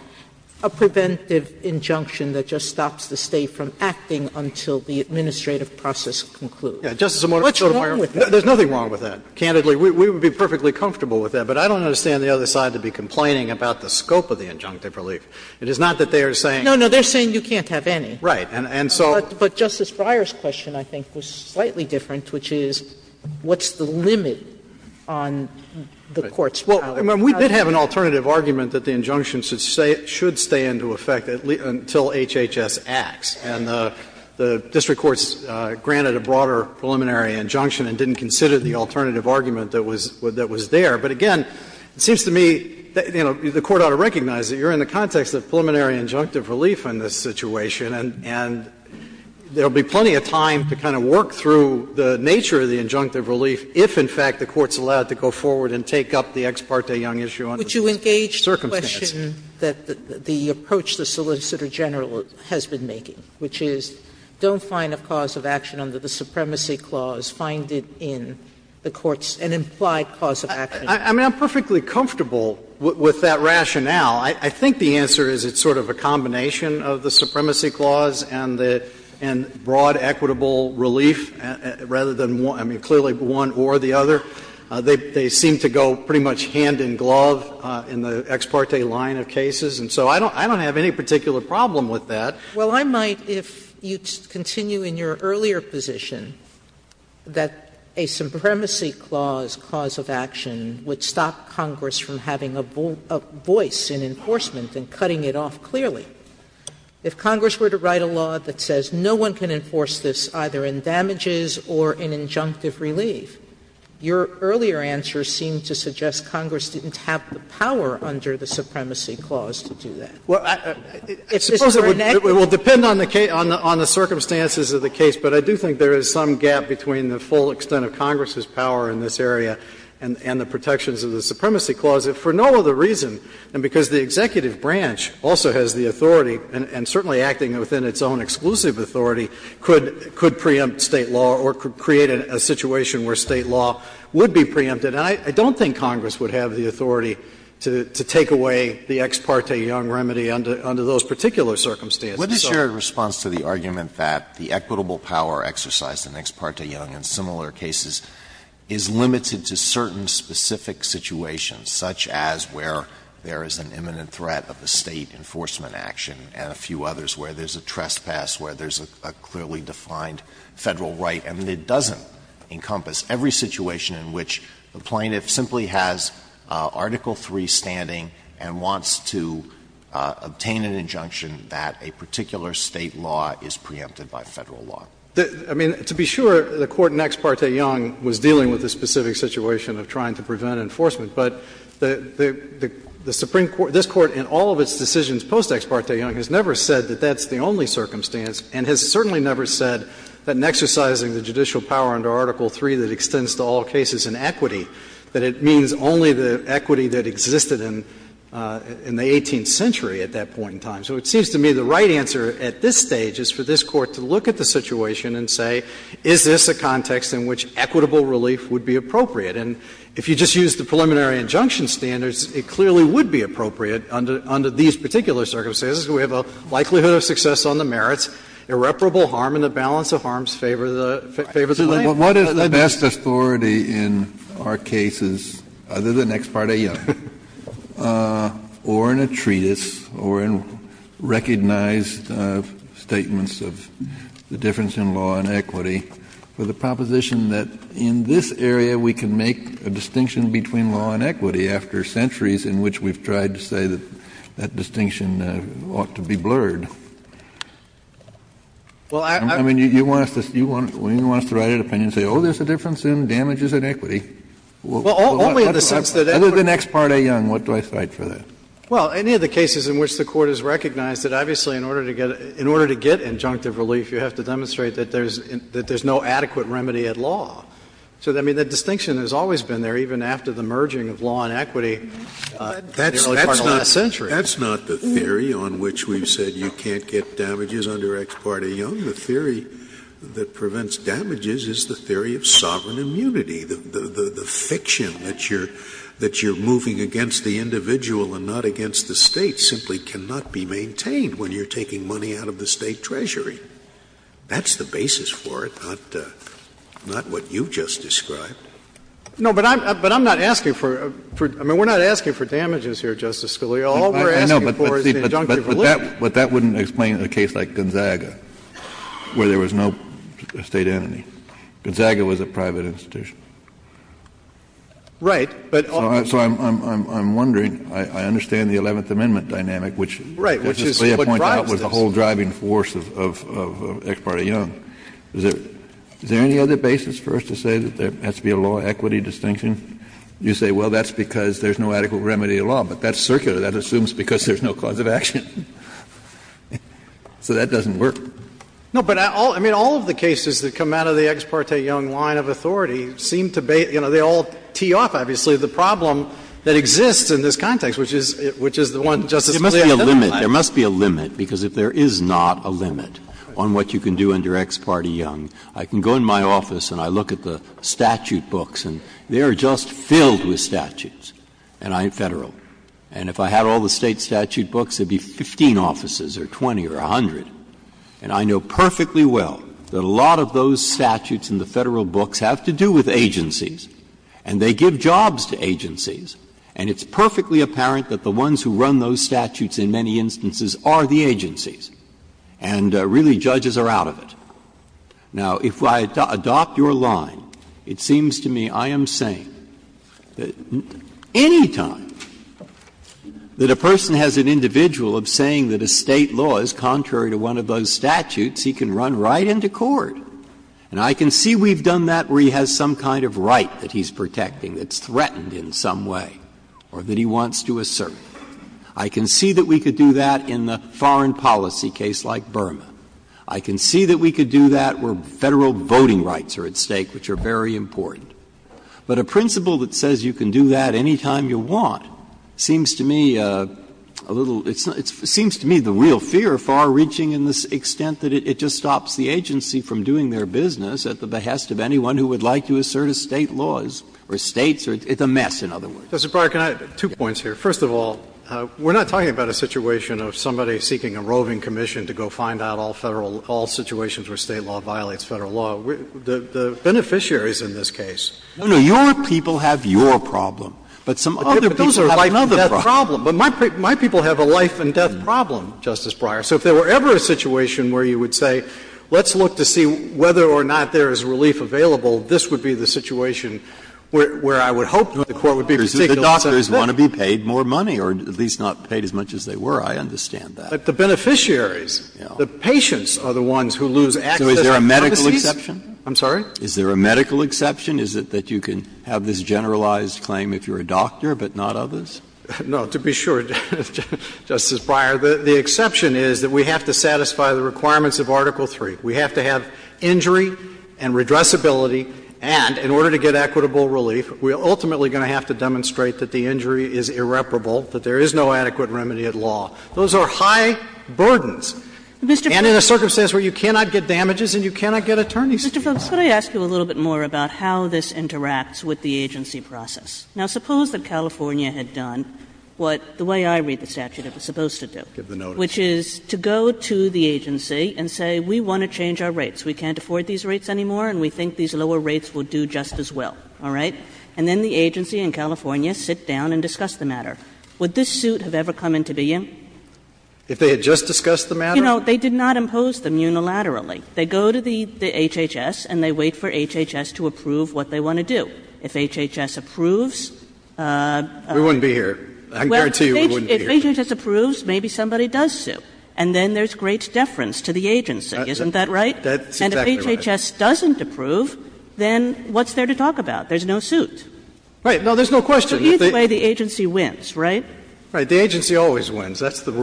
a preventive injunction that just stops the State from acting until the administrative process concludes? What's wrong with that? Justice Sotomayor, there's nothing wrong with that, candidly. We would be perfectly comfortable with that, but I don't understand the other side to be complaining about the scope of the injunctive relief. It is not that they are saying you can't have any. Right. And so But Justice Breyer's question, I think, was slightly different, which is what's the limit on the Court's power? Well, we did have an alternative argument that the injunction should stay into effect until HHS acts, and the district courts granted a broader preliminary injunction and didn't consider the alternative argument that was there. But, again, it seems to me, you know, the Court ought to recognize that you are in the context of preliminary injunctive relief in this situation, and there will be plenty of time to kind of work through the nature of the injunctive relief if, in fact, the Court is allowed to go forward and take up the Ex parte Young issue under the circumstances. Sotomayor, would you engage the question that the approach the Solicitor General has been making, which is don't find a cause of action under the Supremacy I mean, I'm perfectly comfortable with that rationale. I think the answer is it's sort of a combination of the Supremacy Clause and the broad equitable relief, rather than one, I mean, clearly one or the other. They seem to go pretty much hand in glove in the Ex parte line of cases, and so I don't have any particular problem with that. Well, I might, if you continue in your earlier position, that a Supremacy Clause cause of action would stop Congress from having a voice in enforcement and cutting it off clearly. If Congress were to write a law that says no one can enforce this either in damages or in injunctive relief, your earlier answer seemed to suggest Congress didn't have the power under the Supremacy Clause to do that. Well, I suppose it would depend on the circumstances of the case, but I do think there is some gap between the full extent of Congress's power in this area and the protections of the Supremacy Clause, if for no other reason than because the executive branch also has the authority and certainly acting within its own exclusive authority could preempt State law or create a situation where State law would be preempted. And I don't think Congress would have the authority to take away the Ex parte Young remedy under those particular circumstances. Alito, so the legislature responds to the argument that the equitable power exercise of the Ex parte Young in similar cases is limited to certain specific situations, such as where there is an imminent threat of a State enforcement action and a few others, where there's a trespass, where there's a clearly defined Federal right. And it doesn't encompass every situation in which the plaintiff simply has Article III standing and wants to obtain an injunction that a particular State law is preempted by Federal law. I mean, to be sure, the Court in Ex parte Young was dealing with a specific situation of trying to prevent enforcement. But the Supreme Court, this Court in all of its decisions post-Ex parte Young, has never said that that's the only circumstance and has certainly never said that in exercising the judicial power under Article III that extends to all cases in equity, that it means only the equity that existed in the 18th century at that point in time. So it seems to me the right answer at this stage is for this Court to look at the situation and say, is this a context in which equitable relief would be appropriate? And if you just use the preliminary injunction standards, it clearly would be appropriate under these particular circumstances. We have a likelihood of success on the merits, irreparable harm in the balance of harms favor the plaintiff. Kennedy, what is the best authority in our cases, other than Ex parte Young, or in a treatise, or in recognized statements of the difference in law and equity, for the proposition that in this area we can make a distinction between law and equity after centuries in which we've tried to say that that distinction ought to be blurred? I mean, you want us to write an opinion and say, oh, there's a difference in damages and equity. Well, only in the sense that Ex parte Young, what do I cite for that? Well, any of the cases in which the Court has recognized that, obviously, in order to get injunctive relief, you have to demonstrate that there's no adequate remedy at law. So, I mean, the distinction has always been there, even after the merging of law and equity in the early part of the last century. That's not the theory on which we've said you can't get damages under Ex parte Young. The theory that prevents damages is the theory of sovereign immunity. The fiction that you're moving against the individual and not against the State simply cannot be maintained when you're taking money out of the State treasury. That's the basis for it, not what you've just described. No, but I'm not asking for — I mean, we're not asking for damages here, Justice Scalia. All we're asking for is the injunctive relief. But that wouldn't explain a case like Gonzaga, where there was no State entity. Gonzaga was a private institution. Right. So I'm wondering — I understand the Eleventh Amendment dynamic, which Justice Scalia pointed out was the whole driving force of Ex parte Young. Is there any other basis for us to say that there has to be a law-equity distinction? You say, well, that's because there's no adequate remedy at law, but that's circular. That assumes because there's no cause of action. So that doesn't work. No, but all — I mean, all of the cases that come out of the Ex parte Young line of authority seem to be — you know, they all tee off, obviously, the problem that exists in this context, which is the one Justice Scalia has outlined. There must be a limit. Because if there is not a limit on what you can do under Ex parte Young, I can go in my office and I look at the statute books, and they are just filled with statutes, and I'm Federal. And if I had all the State statute books, there would be 15 offices or 20 or 100. And I know perfectly well that a lot of those statutes in the Federal books have to do with agencies, and they give jobs to agencies. And it's perfectly apparent that the ones who run those statutes in many instances are the agencies. And really, judges are out of it. Now, if I adopt your line, it seems to me I am saying that any time that a Federal person has an individual of saying that a State law is contrary to one of those statutes, he can run right into court. And I can see we've done that where he has some kind of right that he's protecting that's threatened in some way or that he wants to assert. I can see that we could do that in the foreign policy case like Burma. I can see that we could do that where Federal voting rights are at stake, which are very important. But a principle that says you can do that any time you want seems to me a little – it seems to me the real fear, far-reaching in the extent that it just stops the agency from doing their business at the behest of anyone who would like to assert a State law or States. It's a mess, in other words. Phillips, two points here. First of all, we're not talking about a situation of somebody seeking a roving commission to go find out all Federal – all situations where State law violates Federal law. The beneficiaries in this case. Breyer, your people have your problem, but some other people have another problem. Phillips, but my people have a life-and-death problem, Justice Breyer. So if there were ever a situation where you would say, let's look to see whether or not there is relief available, this would be the situation where I would hope the Court would be particularly sensitive. Breyer, the doctors want to be paid more money, or at least not paid as much as they were. I understand that. Phillips, but the beneficiaries, the patients are the ones who lose access to pharmacies. Breyer, so is there a medical exception? I'm sorry? Is there a medical exception? Is it that you can have this generalized claim if you're a doctor, but not others? No. To be sure, Justice Breyer, the exception is that we have to satisfy the requirements of Article III. We have to have injury and redressability, and in order to get equitable relief, we are ultimately going to have to demonstrate that the injury is irreparable, that there is no adequate remedy at law. Those are high burdens. And in a circumstance where you cannot get damages and you cannot get attorney's Thank you. Roberts. Kagan. Mr. Phillips, could I ask you a little bit more about how this interacts with the agency process? Now, suppose that California had done what the way I read the statute, it was supposed to do. Give the notice. Which is to go to the agency and say, we want to change our rates, we can't afford these rates anymore, and we think these lower rates will do just as well, all right? And then they go to HHS and they wait for HHS to approve what they want to do. If HHS approves we wouldn't be here. I can guarantee you we wouldn't be here. Well, if HHS approves, maybe somebody does sue, and then there's great deference to the agency. Isn't that right? That's exactly right. And if HHS doesn't approve, then what's there to talk about? There's no suit. Right. No, there's no question. So either way, the agency wins, right? Right. The agency always wins. But then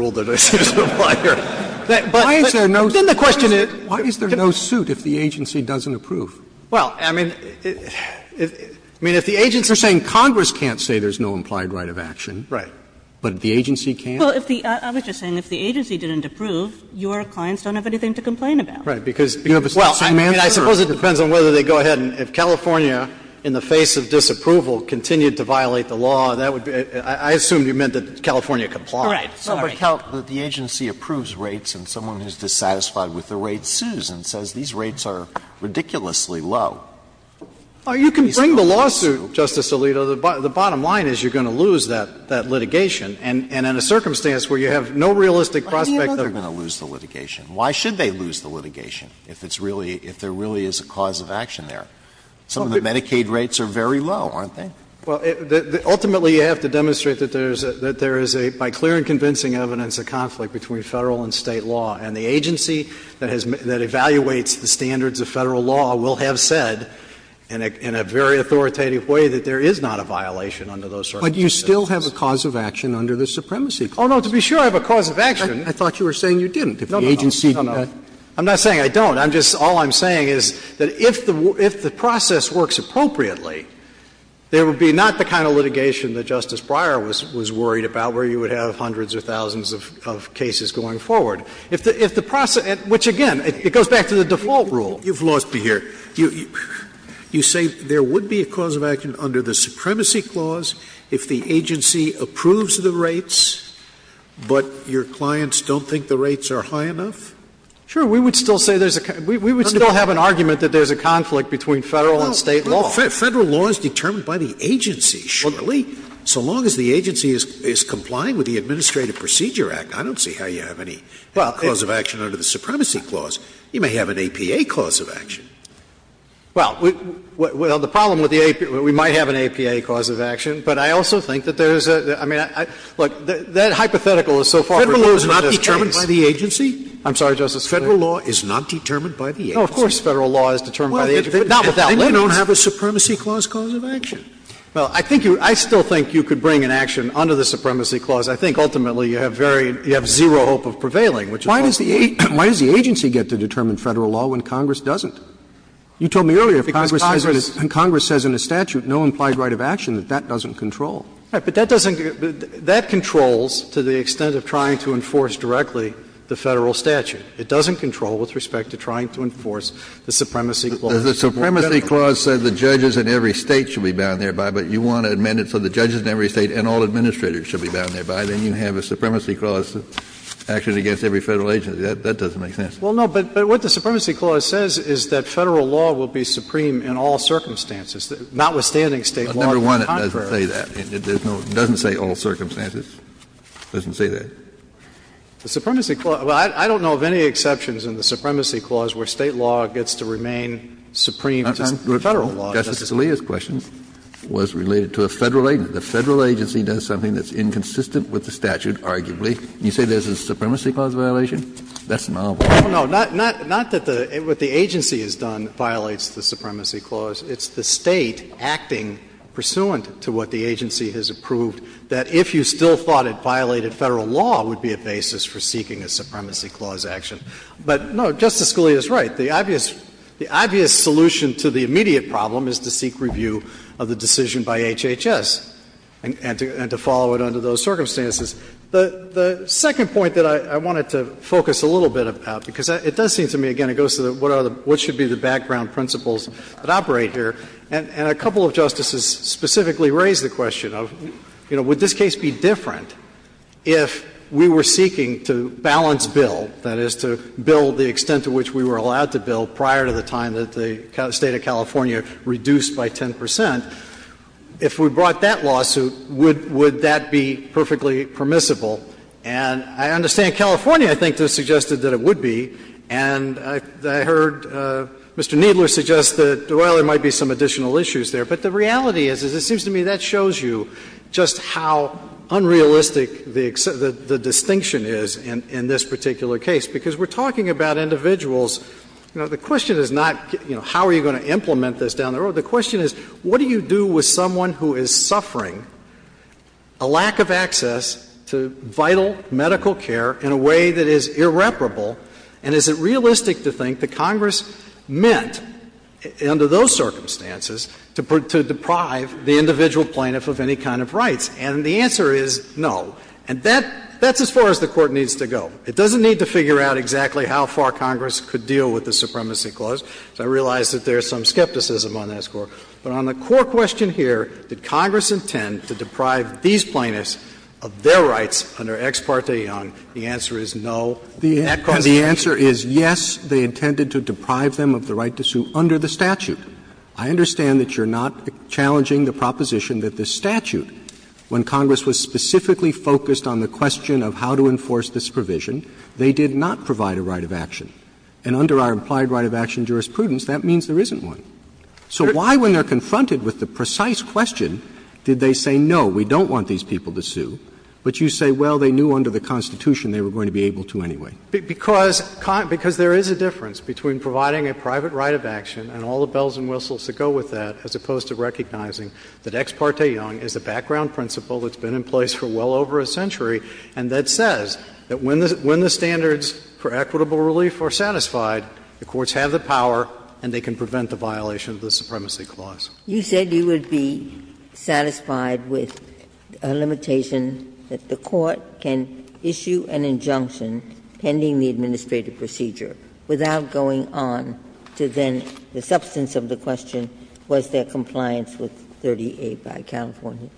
the question is, why is there no suit if the agency doesn't approve? Well, I mean, if the agency is saying Congress can't say there's no implied right of action, but the agency can't? Well, I was just saying, if the agency didn't approve, your clients don't have anything to complain about. Right. Because you have a suing manager. Well, I suppose it depends on whether they go ahead and if California, in the face of disapproval, continued to violate the law, that would be – I assumed you meant that California complied. Right. Sorry. But the agency approves rates and someone who's dissatisfied with the rates sues and says, these rates are ridiculously low. Well, you can bring the lawsuit, Justice Alito. The bottom line is you're going to lose that litigation. And in a circumstance where you have no realistic prospect of – Why do you think they're going to lose the litigation? Why should they lose the litigation if it's really – if there really is a cause of action there? Some of the Medicaid rates are very low, aren't they? But you still have a cause of action under the Supremacy Clause. Oh, no. To be sure I have a cause of action. I thought you were saying you didn't. If the agency – No, no, no. I'm not saying I don't. I'm just – all I'm saying is that if the process works appropriately, there would be not the kind of litigation that Justice Breyer was worried about, where you would have hundreds or thousands of cases going forward. If the process – which, again, it goes back to the default rule. You've lost me here. You say there would be a cause of action under the Supremacy Clause if the agency approves the rates, but your clients don't think the rates are high enough? Sure. We would still say there's a – we would still have an argument that there's a conflict between Federal and State law. Well, Federal law is determined by the agency, surely. So long as the agency is complying with the Administrative Procedure Act, I don't see how you have any cause of action under the Supremacy Clause. You may have an APA cause of action. Well, the problem with the APA – we might have an APA cause of action, but I also think that there's a – I mean, look, that hypothetical is so far removed in this case. Federal law is not determined by the agency? I'm sorry, Justice Scalia. Federal law is not determined by the agency? No, of course Federal law is determined by the agency. Not without limits. They don't have a Supremacy Clause cause of action. Well, I think you – I still think you could bring an action under the Supremacy Clause. I think ultimately you have very – you have zero hope of prevailing, which is what we're looking for. Why does the agency get to determine Federal law when Congress doesn't? You told me earlier if Congress says in a statute no implied right of action, that that doesn't control. Right. But that doesn't – that controls to the extent of trying to enforce directly the Federal statute. It doesn't control with respect to trying to enforce the Supremacy Clause. The Supremacy Clause says the judges in every State should be bound thereby, but you want to amend it so the judges in every State and all administrators should be bound thereby. Then you have a Supremacy Clause action against every Federal agency. That doesn't make sense. Well, no, but what the Supremacy Clause says is that Federal law will be supreme in all circumstances, notwithstanding State law being contrary. Number one, it doesn't say that. It doesn't say all circumstances. It doesn't say that. The Supremacy Clause – well, I don't know of any exceptions in the Supremacy Clause where State law gets to remain supreme to Federal law. Justice Alito's question was related to a Federal agency. The Federal agency does something that's inconsistent with the statute, arguably. You say there's a Supremacy Clause violation? That's novel. No, not that the – what the agency has done violates the Supremacy Clause. It's the State acting pursuant to what the agency has approved, that if you still thought it violated Federal law would be a basis for seeking a Supremacy Clause action. But, no, Justice Scalia is right. The obvious – the obvious solution to the immediate problem is to seek review of the decision by HHS and to follow it under those circumstances. The second point that I wanted to focus a little bit about, because it does seem to me, again, it goes to what are the – what should be the background principles that operate here, and a couple of Justices specifically raised the question of, you know, would this case be different if we were seeking to balance bill, that is, to bill the extent to which we were allowed to bill prior to the time that the State of California reduced by 10 percent. If we brought that lawsuit, would that be perfectly permissible? And I understand California, I think, has suggested that it would be, and I heard Mr. Kneedler suggest that, well, there might be some additional issues there. But the reality is, is it seems to me that shows you just how unrealistic the distinction is in this particular case, because we're talking about individuals – you know, the question is not, you know, how are you going to implement this down the road. The question is, what do you do with someone who is suffering a lack of access to vital medical care in a way that is irreparable, and is it realistic to think that Congress meant, under those circumstances, to deprive the individual plaintiff of any kind of rights? And the answer is no. And that's as far as the Court needs to go. It doesn't need to figure out exactly how far Congress could deal with the supremacy clause, because I realize that there is some skepticism on that score. But on the core question here, did Congress intend to deprive these plaintiffs of their rights under Ex parte Young, the answer is no. That's the question. Roberts. And the answer is yes, they intended to deprive them of the right to sue under the statute. I understand that you're not challenging the proposition that the statute, when Congress was specifically focused on the question of how to enforce this provision, they did not provide a right of action. And under our implied right of action jurisprudence, that means there isn't one. So why, when they're confronted with the precise question, did they say, no, we don't want these people to sue, but you say, well, they knew under the Constitution they were going to be able to anyway? Because there is a difference between providing a private right of action and all the bells and whistles that go with that, as opposed to recognizing that Ex parte Young is a background principle that's been in place for well over a century, and that says that when the standards for equitable relief are satisfied, the courts have the power and they can prevent the violation of the supremacy clause. You said you would be satisfied with a limitation that the Court can issue an injunction pending the administrative procedure without going on to then the substance of the question, was there compliance with 38 by California?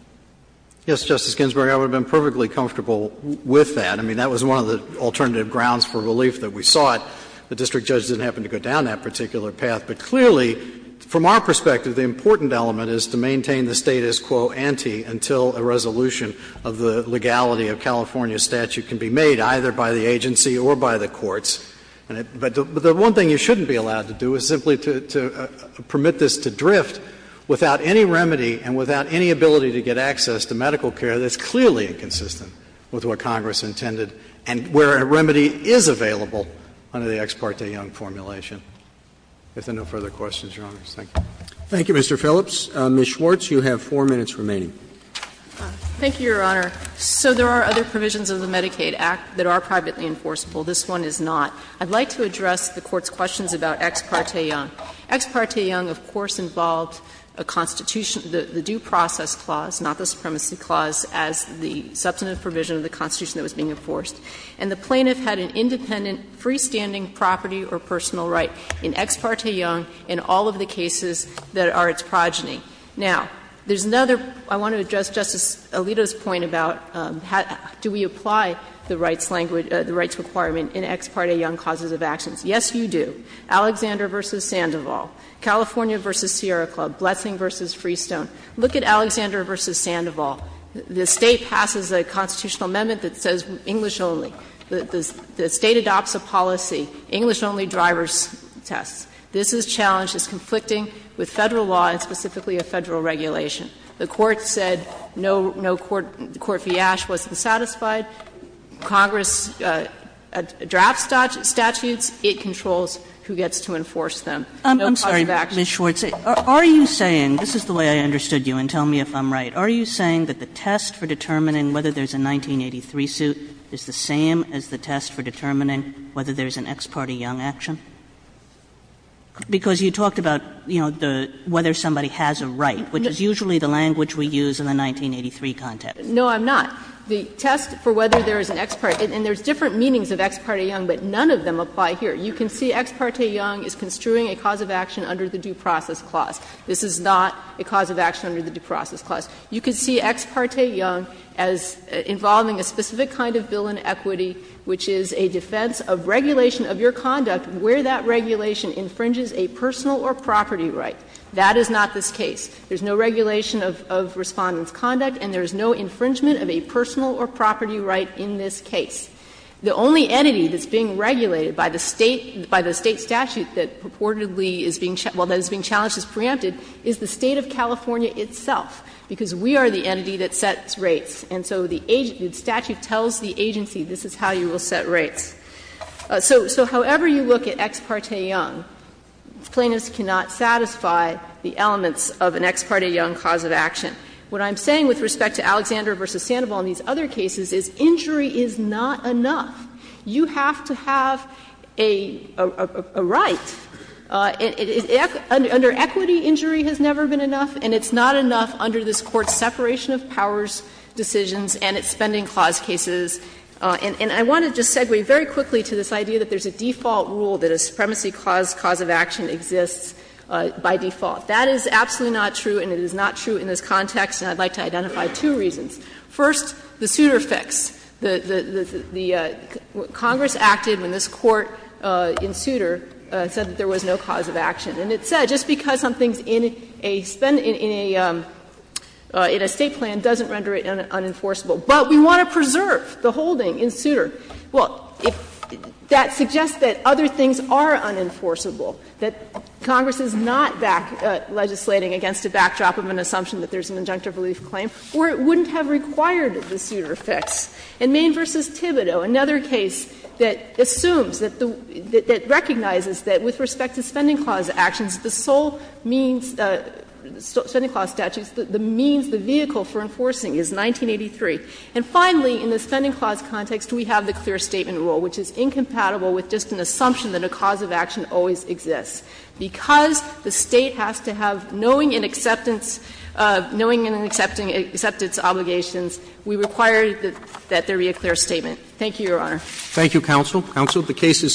Yes, Justice Ginsburg, I would have been perfectly comfortable with that. I mean, that was one of the alternative grounds for relief that we sought. The district judge didn't happen to go down that particular path. But clearly, from our perspective, the important element is to maintain the status quo ante until a resolution of the legality of California's statute can be made, either by the agency or by the courts. But the one thing you shouldn't be allowed to do is simply to permit this to drift without any remedy and without any ability to get access to medical care that's clearly inconsistent with what Congress intended and where a remedy is available under the Ex parte Young formulation. If there are no further questions, Your Honors, thank you. Roberts. Thank you, Mr. Phillips. Ms. Schwartz, you have 4 minutes remaining. Thank you, Your Honor. So there are other provisions of the Medicaid Act that are privately enforceable. This one is not. I'd like to address the Court's questions about Ex parte Young. Ex parte Young, of course, involved a Constitution, the due process clause, not the supremacy clause, as the substantive provision of the Constitution that was being enforced. And the plaintiff had an independent, freestanding property or personal right in Ex parte Young in all of the cases that are its progeny. Now, there's another – I want to address Justice Alito's point about how do we apply the rights language – the rights requirement in Ex parte Young causes of actions. Yes, you do. Alexander v. Sandoval, California v. Sierra Club, Blessing v. Freestone. Look at Alexander v. Sandoval. The State passes a constitutional amendment that says English only. The State adopts a policy, English only driver's tests. This is challenged as conflicting with Federal law and specifically a Federal regulation. The Court said no – no court fiasco was satisfied. Congress drafts statutes. It controls who gets to enforce them. No question of action. Kagan. Kagan. Kagan. Are you saying – this is the way I understood you, and tell me if I'm right. Are you saying that the test for determining whether there's a 1983 suit is the same as the test for determining whether there's an Ex parte Young action? Because you talked about, you know, the – whether somebody has a right, which is usually the language we use in the 1983 context. No, I'm not. The test for whether there's an Ex parte – and there's different meanings of Ex parte Young, but none of them apply here. You can see Ex parte Young is construing a cause of action under the due process clause. This is not a cause of action under the due process clause. You can see Ex parte Young as involving a specific kind of bill in equity, which is a defense of regulation of your conduct where that regulation infringes a personal or property right. That is not this case. There's no regulation of Respondent's conduct, and there's no infringement of a personal or property right in this case. The only entity that's being regulated by the State – by the State statute that purportedly is being – well, that is being challenged as preempted is the State of California itself, because we are the entity that sets rates. And so the statute tells the agency, this is how you will set rates. So however you look at Ex parte Young, plaintiffs cannot satisfy the elements of an Ex parte Young cause of action. What I'm saying with respect to Alexander v. Sandoval and these other cases is injury is not enough. You have to have a right. Under equity, injury has never been enough, and it's not enough under this Court's separation of powers decisions and its Spending Clause cases. And I want to just segue very quickly to this idea that there's a default rule that a supremacy cause, cause of action exists by default. That is absolutely not true, and it is not true in this context, and I'd like to identify two reasons. First, the Souter fix. The Congress acted when this Court in Souter said that there was no cause of action. And it said, just because something's in a State plan doesn't render it unenforceable. But we want to preserve the holding in Souter. Well, that suggests that other things are unenforceable, that Congress is not legislating against a backdrop of an assumption that there's an injunctive relief claim, or it wouldn't have required the Souter fix. In Main v. Thibodeau, another case that assumes that the — that recognizes that with respect to Spending Clause actions, the sole means — Spending Clause statutes, the means, the vehicle for enforcing is 1983. And finally, in the Spending Clause context, we have the clear statement rule, which is incompatible with just an assumption that a cause of action always exists. Because the State has to have knowing and acceptance — knowing and acceptance obligations, we require that there be a clear statement. Thank you, Your Honor. Roberts. Thank you, counsel. Counsel, the case is submitted.